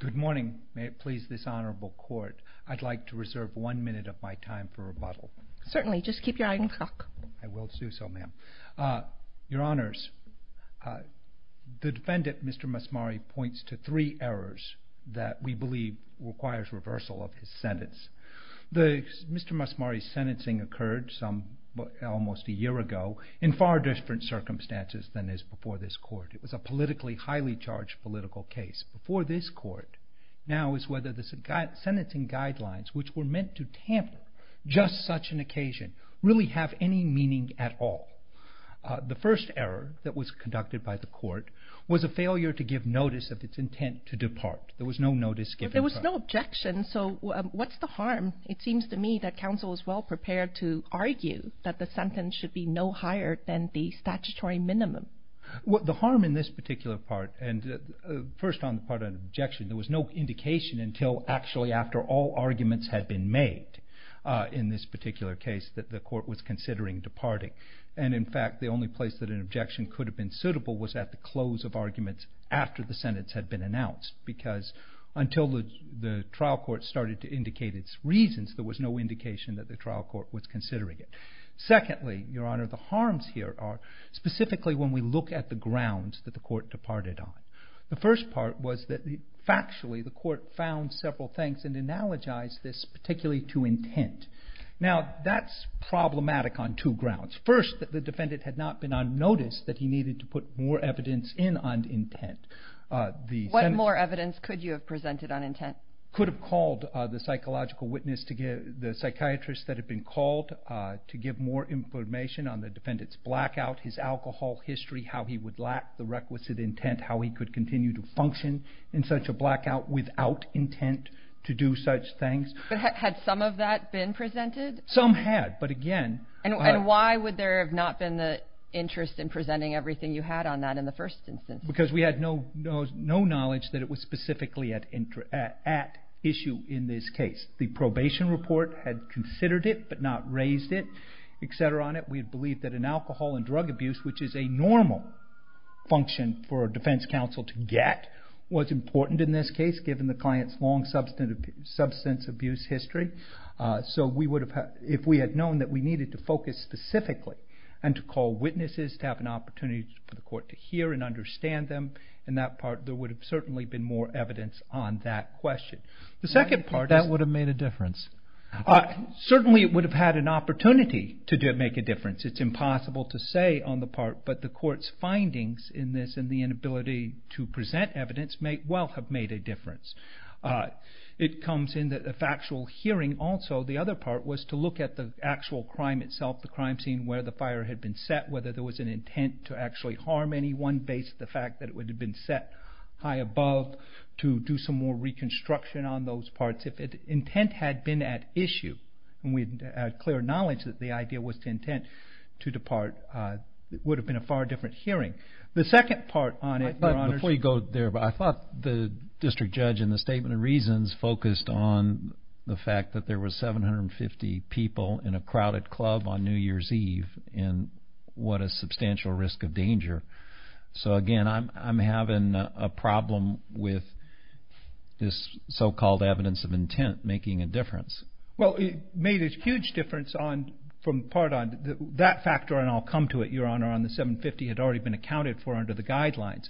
Good morning. May it please this honorable court, I'd like to reserve one minute of my time for rebuttal. Certainly, just keep your eye on the clock. I will do so, ma'am. Your honors, the defendant, Mr. Masmari, points to three errors that we believe requires reversal of his sentence. Mr. Masmari's sentencing occurred almost a year ago in far different circumstances than is before this court. It was a politically highly charged political case. Before this court now is whether the sentencing guidelines, which were meant to tamper just such an occasion, really have any meaning at all. The first error that was conducted by the court was a failure to give notice of its intent to depart. There was no notice given. There was no objection, so what's the harm? It seems to me that counsel is well prepared to argue that the sentence should be no higher than the statutory minimum. The harm in this particular part, and first on the part of objection, there was no indication until actually after all arguments had been made in this particular case that the court was considering departing. In fact, the only place that an objection could have been suitable was at the close of arguments after the sentence had been announced. Because until the trial court started to indicate its reasons, there was no indication that the trial court was considering it. Secondly, Your Honor, the harms here are specifically when we look at the grounds that the court departed on. The first part was that factually the court found several things and analogized this particularly to intent. Now, that's problematic on two grounds. First, that the defendant had not been on notice that he needed to put more evidence in on intent. What more evidence could you have presented on intent? Could have called the psychological witness, the psychiatrist that had been called, to give more information on the defendant's blackout, his alcohol history, how he would lack the requisite intent, how he could continue to function in such a blackout without intent to do such things. Had some of that been presented? Some had, but again... And why would there have not been the interest in presenting everything you had on that in the first instance? Because we had no knowledge that it was specifically at issue in this case. The probation report had considered it, but not raised it, etc. on it. We had believed that an alcohol and drug abuse, which is a normal function for a defense counsel to get, was important in this case given the client's long substance abuse history. So if we had known that we needed to focus specifically and to call witnesses to have an opportunity for the court to hear and understand them, in that part there would have certainly been more evidence on that question. The second part is... That would have made a difference? Certainly it would have had an opportunity to make a difference. It's impossible to say on the part, but the court's findings in this and the inability to present evidence may well have made a difference. It comes in that the factual hearing also, the other part, was to look at the actual crime itself, the crime scene, where the fire had been set, whether there was an intent to actually harm anyone based on the fact that it would have been set high above to do some more reconstruction on those parts. If intent had been at issue and we had clear knowledge that the idea was to intent to depart, it would have been a far different hearing. The second part on it... Before you go there, I thought the district judge in the Statement of Reasons focused on the fact that there were 750 people in a crowded club on New Year's Eve and what a substantial risk of danger. So, again, I'm having a problem with this so-called evidence of intent making a difference. Well, it made a huge difference from the part on that factor, and I'll come to it, Your Honor, on the 750 had already been accounted for under the guidelines.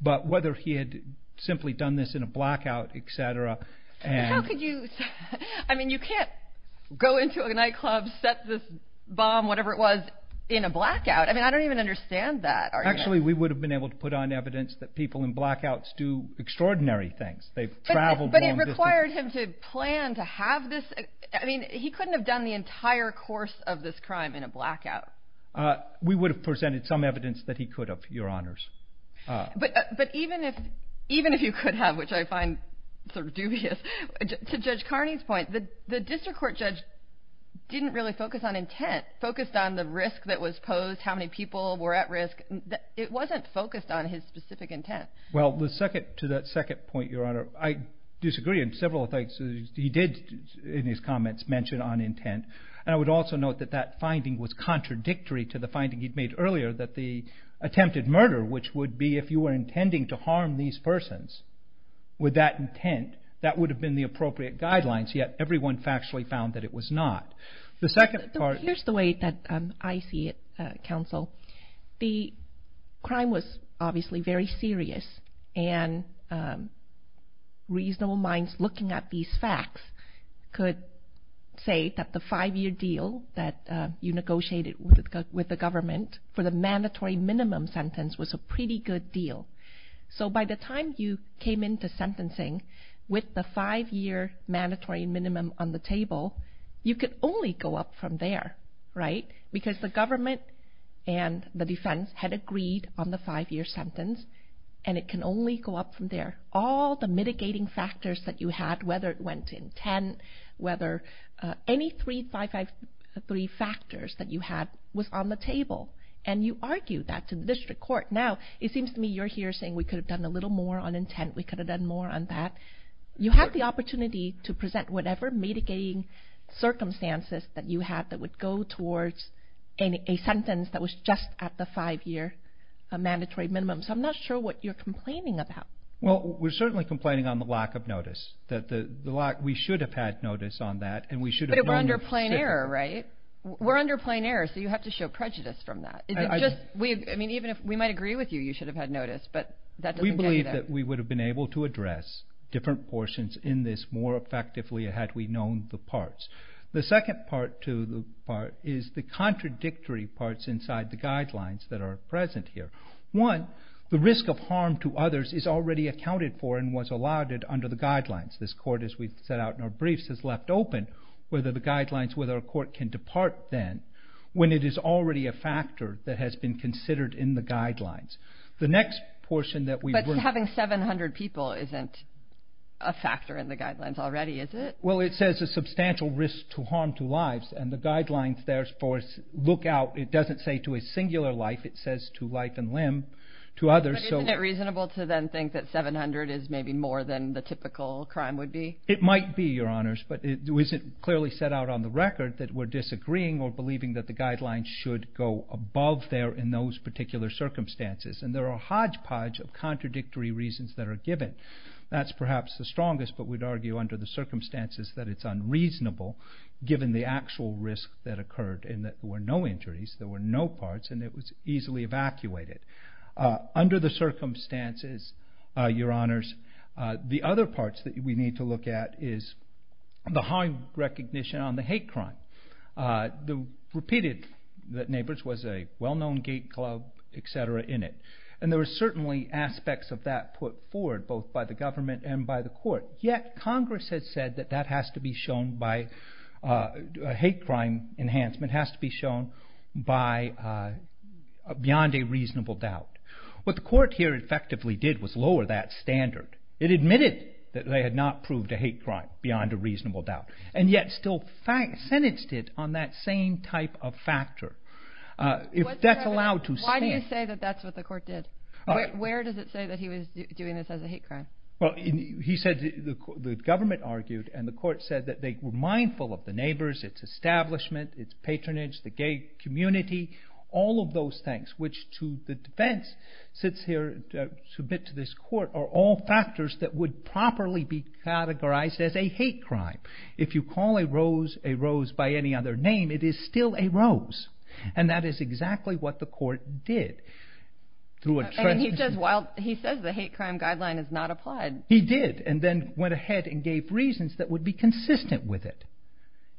But whether he had simply done this in a blackout, et cetera... How could you... I mean, you can't go into a nightclub, set this bomb, whatever it was, in a blackout. I mean, I don't even understand that argument. Actually, we would have been able to put on evidence that people in blackouts do extraordinary things. They've traveled long distances. But it required him to plan to have this... I mean, he couldn't have done the entire course of this crime in a blackout. We would have presented some evidence that he could have, Your Honors. But even if you could have, which I find sort of dubious, to Judge Carney's point, the district court judge didn't really focus on intent, focused on the risk that was posed, how many people were at risk. It wasn't focused on his specific intent. Well, to that second point, Your Honor, I disagree in several things he did in his comments mention on intent. And I would also note that that finding was contradictory to the finding he'd made earlier that the attempted murder, which would be if you were intending to harm these persons with that intent, that would have been the appropriate guidelines, yet everyone factually found that it was not. The second part... Here's the way that I see it, Counsel. The crime was obviously very serious, and reasonable minds looking at these facts could say that the five-year deal that you negotiated with the government for the mandatory minimum sentence was a pretty good deal. So by the time you came into sentencing with the five-year mandatory minimum on the table, you could only go up from there, right? Because the government and the defense had agreed on the five-year sentence, and it can only go up from there. All the mitigating factors that you had, whether it went to intent, whether any three factors that you had was on the table, and you argued that to the district court. Now, it seems to me you're here saying we could have done a little more on intent, we could have done more on that. You had the opportunity to present whatever mitigating circumstances that you had that would go towards a sentence that was just at the five-year mandatory minimum. So I'm not sure what you're complaining about. Well, we're certainly complaining on the lack of notice. We should have had notice on that, and we should have known. But we're under plain error, right? We're under plain error, so you have to show prejudice from that. I mean, even if we might agree with you, you should have had notice, but that doesn't get you there. We believe that we would have been able to address different portions in this more effectively had we known the parts. The second part to the part is the contradictory parts inside the guidelines that are present here. One, the risk of harm to others is already accounted for and was allotted under the guidelines. This court, as we've set out in our briefs, has left open whether the guidelines, whether a court can depart then when it is already a factor that has been considered in the guidelines. The next portion that we were- But having 700 people isn't a factor in the guidelines already, is it? Well, it says a substantial risk to harm to lives, and the guidelines there look out. It doesn't say to a singular life. It says to life and limb, to others. But isn't it reasonable to then think that 700 is maybe more than the typical crime would be? It might be, Your Honors, but it wasn't clearly set out on the record that we're disagreeing or believing that the guidelines should go above there in those particular circumstances, and there are a hodgepodge of contradictory reasons that are given. That's perhaps the strongest, but we'd argue under the circumstances that it's unreasonable, given the actual risk that occurred in that there were no injuries, there were no parts, and it was easily evacuated. Under the circumstances, Your Honors, the other parts that we need to look at is the high recognition on the hate crime. They repeated that Nabors was a well-known gate club, et cetera, in it, and there were certainly aspects of that put forward both by the government and by the court, yet Congress has said that that has to be shown by a hate crime enhancement, has to be shown beyond a reasonable doubt. What the court here effectively did was lower that standard. It admitted that they had not proved a hate crime beyond a reasonable doubt, and yet still sentenced it on that same type of factor. If that's allowed to stand... Why do you say that that's what the court did? Where does it say that he was doing this as a hate crime? Well, he said the government argued, and the court said that they were mindful of the Nabors, its establishment, its patronage, the gay community, all of those things, which to the defense sits here to submit to this court are all factors that would properly be categorized as a hate crime. If you call a rose a rose by any other name, it is still a rose, and that is exactly what the court did. He says the hate crime guideline has not applied. He did, and then went ahead and gave reasons that would be consistent with it.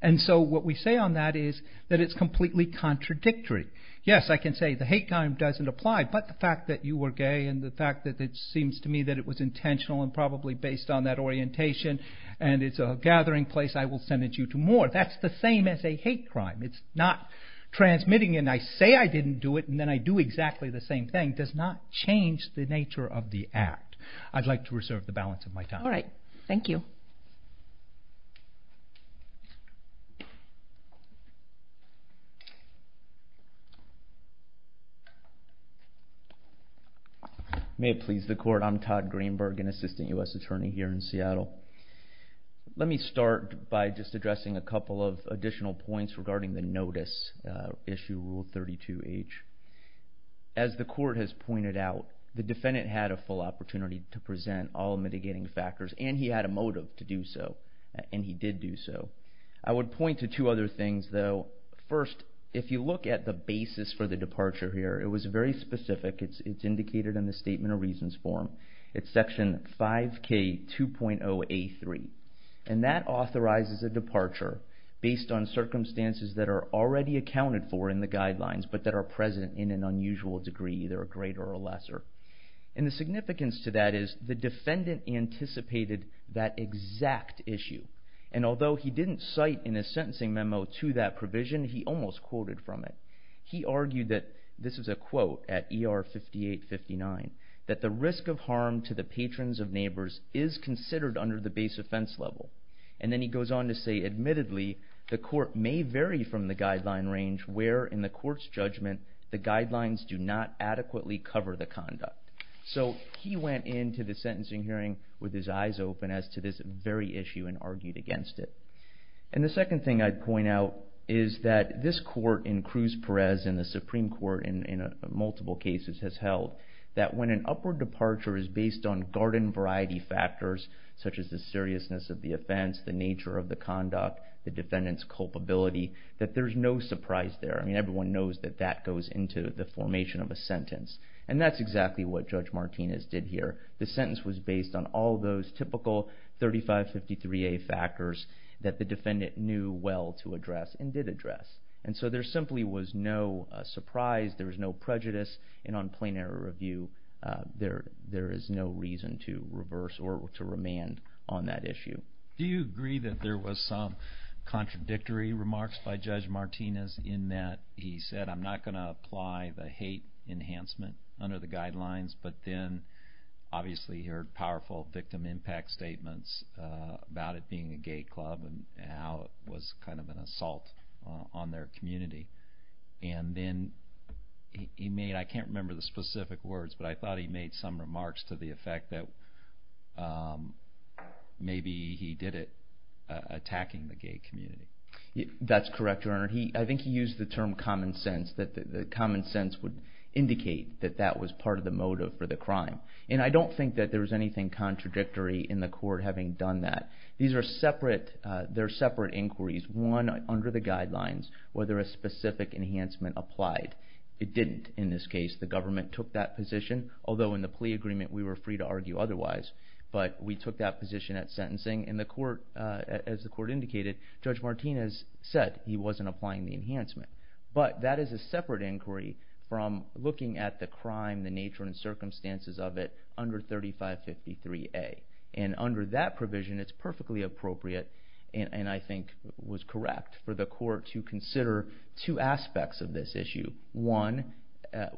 And so what we say on that is that it's completely contradictory. Yes, I can say the hate crime doesn't apply, but the fact that you were gay and the fact that it seems to me that it was intentional and probably based on that orientation, and it's a gathering place, I will send it to you more. That's the same as a hate crime. It's not transmitting and I say I didn't do it and then I do exactly the same thing does not change the nature of the act. I'd like to reserve the balance of my time. All right. Thank you. May it please the court, I'm Todd Greenberg, an assistant U.S. attorney here in Seattle. Let me start by just addressing a couple of additional points regarding the notice, issue rule 32H. As the court has pointed out, the defendant had a full opportunity to present all mitigating factors and he had a motive to do so, and he did do so. I would point to two other things, though. First, if you look at the basis for the departure here, it was very specific. It's indicated in the statement of reasons form. It's section 5K2.0A3, and that authorizes a departure based on circumstances that are already accounted for in the guidelines but that are present in an unusual degree, either a greater or a lesser. The significance to that is the defendant anticipated that exact issue, and although he didn't cite in his sentencing memo to that provision, he almost quoted from it. He argued that, this is a quote at ER 5859, that the risk of harm to the patrons of neighbors is considered under the base offense level. And then he goes on to say, admittedly, the court may vary from the guideline range where in the court's judgment the guidelines do not adequately cover the conduct. So he went into the sentencing hearing with his eyes open as to this very issue and argued against it. And the second thing I'd point out is that this court in Cruz Perez and the Supreme Court in multiple cases has held that when an upward departure is based on garden variety factors, such as the seriousness of the offense, the nature of the conduct, the defendant's culpability, that there's no surprise there. I mean, everyone knows that that goes into the formation of a sentence, and that's exactly what Judge Martinez did here. The sentence was based on all those typical 3553A factors that the defendant knew well to address and did address. And so there simply was no surprise, there was no prejudice, and on plain error review there is no reason to reverse or to remand on that issue. Do you agree that there was some contradictory remarks by Judge Martinez in that he said, I'm not going to apply the hate enhancement under the guidelines, but then obviously he heard powerful victim impact statements about it being a gay club and how it was kind of an assault on their community. And then he made, I can't remember the specific words, but I thought he made some remarks to the effect that maybe he did it attacking the gay community. That's correct, Your Honor. I think he used the term common sense, that the common sense would indicate that that was part of the motive for the crime. And I don't think that there was anything contradictory in the court having done that. These are separate inquiries, one under the guidelines, whether a specific enhancement applied. It didn't in this case. The government took that position, although in the plea agreement we were free to argue otherwise, but we took that position at sentencing, and as the court indicated, Judge Martinez said he wasn't applying the enhancement. But that is a separate inquiry from looking at the crime, the nature and circumstances of it under 3553A. And under that provision, it's perfectly appropriate, and I think was correct for the court to consider two aspects of this issue. One,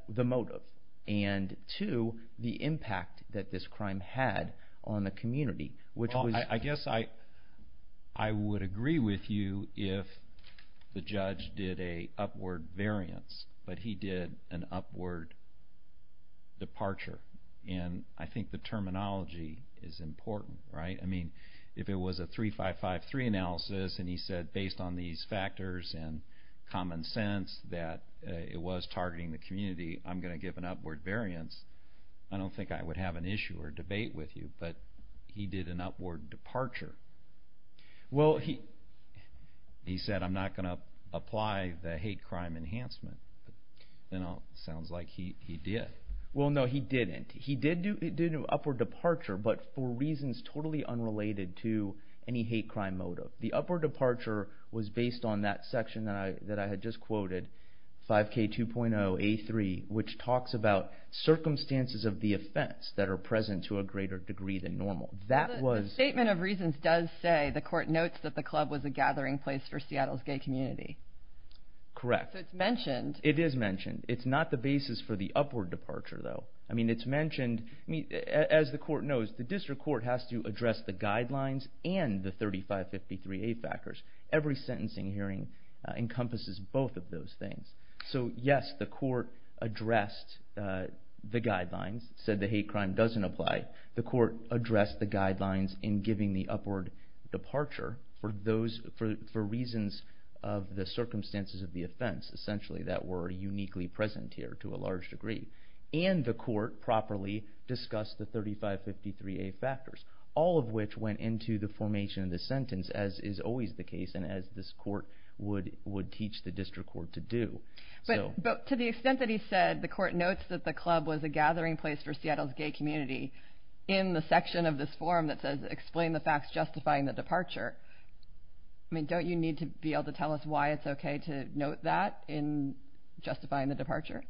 the motive, and two, the impact that this crime had on the community. I guess I would agree with you if the judge did an upward variance, but he did an upward departure. And I think the terminology is important, right? I mean, if it was a 3553 analysis, and he said based on these factors and common sense that it was targeting the community, I'm going to give an upward variance, I don't think I would have an issue or debate with you. But he did an upward departure. Well, he said I'm not going to apply the hate crime enhancement. It sounds like he did. Well, no, he didn't. He did do an upward departure, but for reasons totally unrelated to any hate crime motive. The upward departure was based on that section that I had just quoted, 5K2.0A3, which talks about circumstances of the offense that are present to a greater degree than normal. The statement of reasons does say the court notes that the club was a gathering place for Seattle's gay community. Correct. So it's mentioned. It is mentioned. It's not the basis for the upward departure, though. I mean, it's mentioned. As the court knows, the district court has to address the guidelines and the 3553A factors. Every sentencing hearing encompasses both of those things. So, yes, the court addressed the guidelines, said the hate crime doesn't apply. The court addressed the guidelines in giving the upward departure for reasons of the circumstances of the offense, essentially, that were uniquely present here to a large degree. And the court properly discussed the 3553A factors, all of which went into the formation of the sentence, as is always the case and as this court would teach the district court to do. But to the extent that he said the court notes that the club was a gathering place for Seattle's gay community in the section of this form that says explain the facts justifying the departure, don't you need to be able to tell us why it's okay to note that in justifying the departure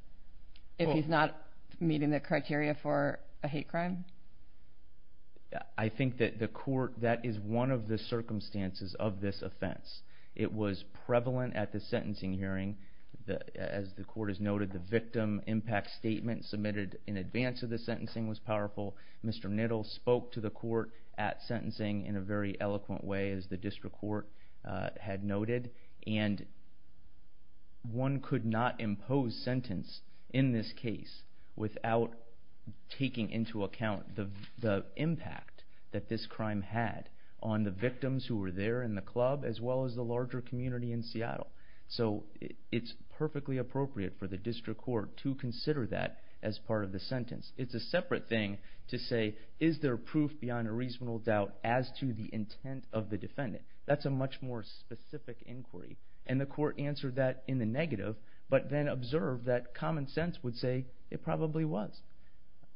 if he's not meeting the criteria for a hate crime? I think that the court, that is one of the circumstances of this offense. It was prevalent at the sentencing hearing. As the court has noted, the victim impact statement submitted in advance of the sentencing was powerful. Mr. Nittle spoke to the court at sentencing in a very eloquent way, as the district court had noted. And one could not impose sentence in this case without taking into account the impact that this crime had on the victims who were there in the club as well as the larger community in Seattle. So it's perfectly appropriate for the district court to consider that as part of the sentence. It's a separate thing to say is there proof beyond a reasonable doubt as to the intent of the defendant. That's a much more specific inquiry. And the court answered that in the negative but then observed that common sense would say it probably was.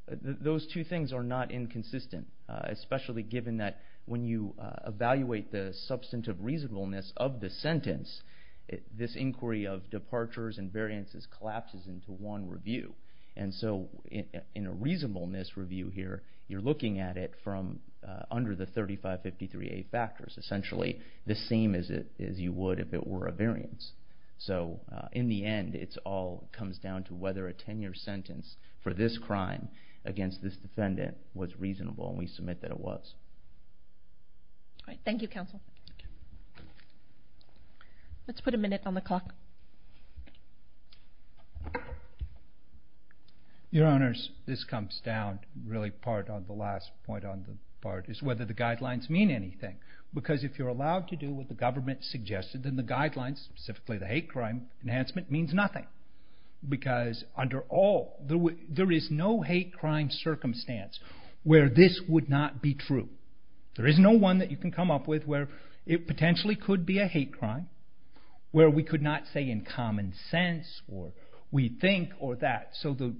Those two things are not inconsistent, especially given that when you evaluate the substantive reasonableness of the sentence, this inquiry of departures and variances collapses into one review. And so in a reasonableness review here, you're looking at it from under the 3553A factors, essentially the same as you would if it were a variance. So in the end, it all comes down to whether a tenure sentence for this crime against this defendant was reasonable, and we submit that it was. Thank you, counsel. Let's put a minute on the clock. Your Honors, this comes down really part on the last point on the part is whether the guidelines mean anything. Because if you're allowed to do what the government suggested, then the guidelines, specifically the hate crime enhancement, means nothing. Because under all, there is no hate crime circumstance where this would not be true. There is no one that you can come up with where it potentially could be a hate crime, where we could not say in common sense or we think or that. So the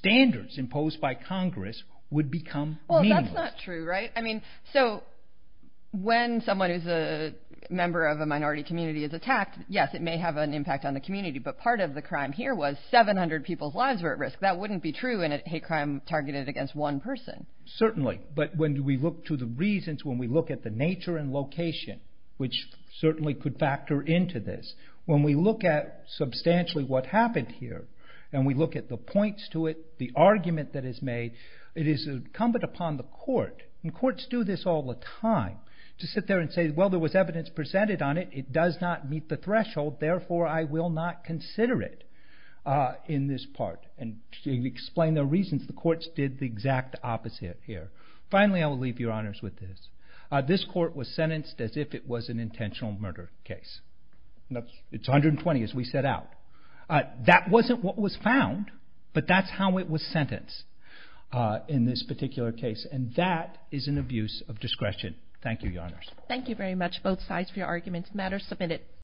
standards imposed by Congress would become meaningless. Well, that's not true, right? So when someone who's a member of a minority community is attacked, yes, it may have an impact on the community, but part of the crime here was 700 people's lives were at risk. That wouldn't be true in a hate crime targeted against one person. Certainly. But when we look to the reasons, when we look at the nature and location, which certainly could factor into this, when we look at substantially what happened here and we look at the points to it, the argument that is made, it is incumbent upon the court, and courts do this all the time, to sit there and say, well, there was evidence presented on it. It does not meet the threshold. Therefore, I will not consider it in this part. And to explain the reasons, the courts did the exact opposite here. Finally, I will leave Your Honors with this. This court was sentenced as if it was an intentional murder case. It's 120, as we set out. That wasn't what was found, but that's how it was sentenced in this particular case, and that is an abuse of discretion. Thank you, Your Honors. Thank you very much, both sides, for your arguments. Matter submitted.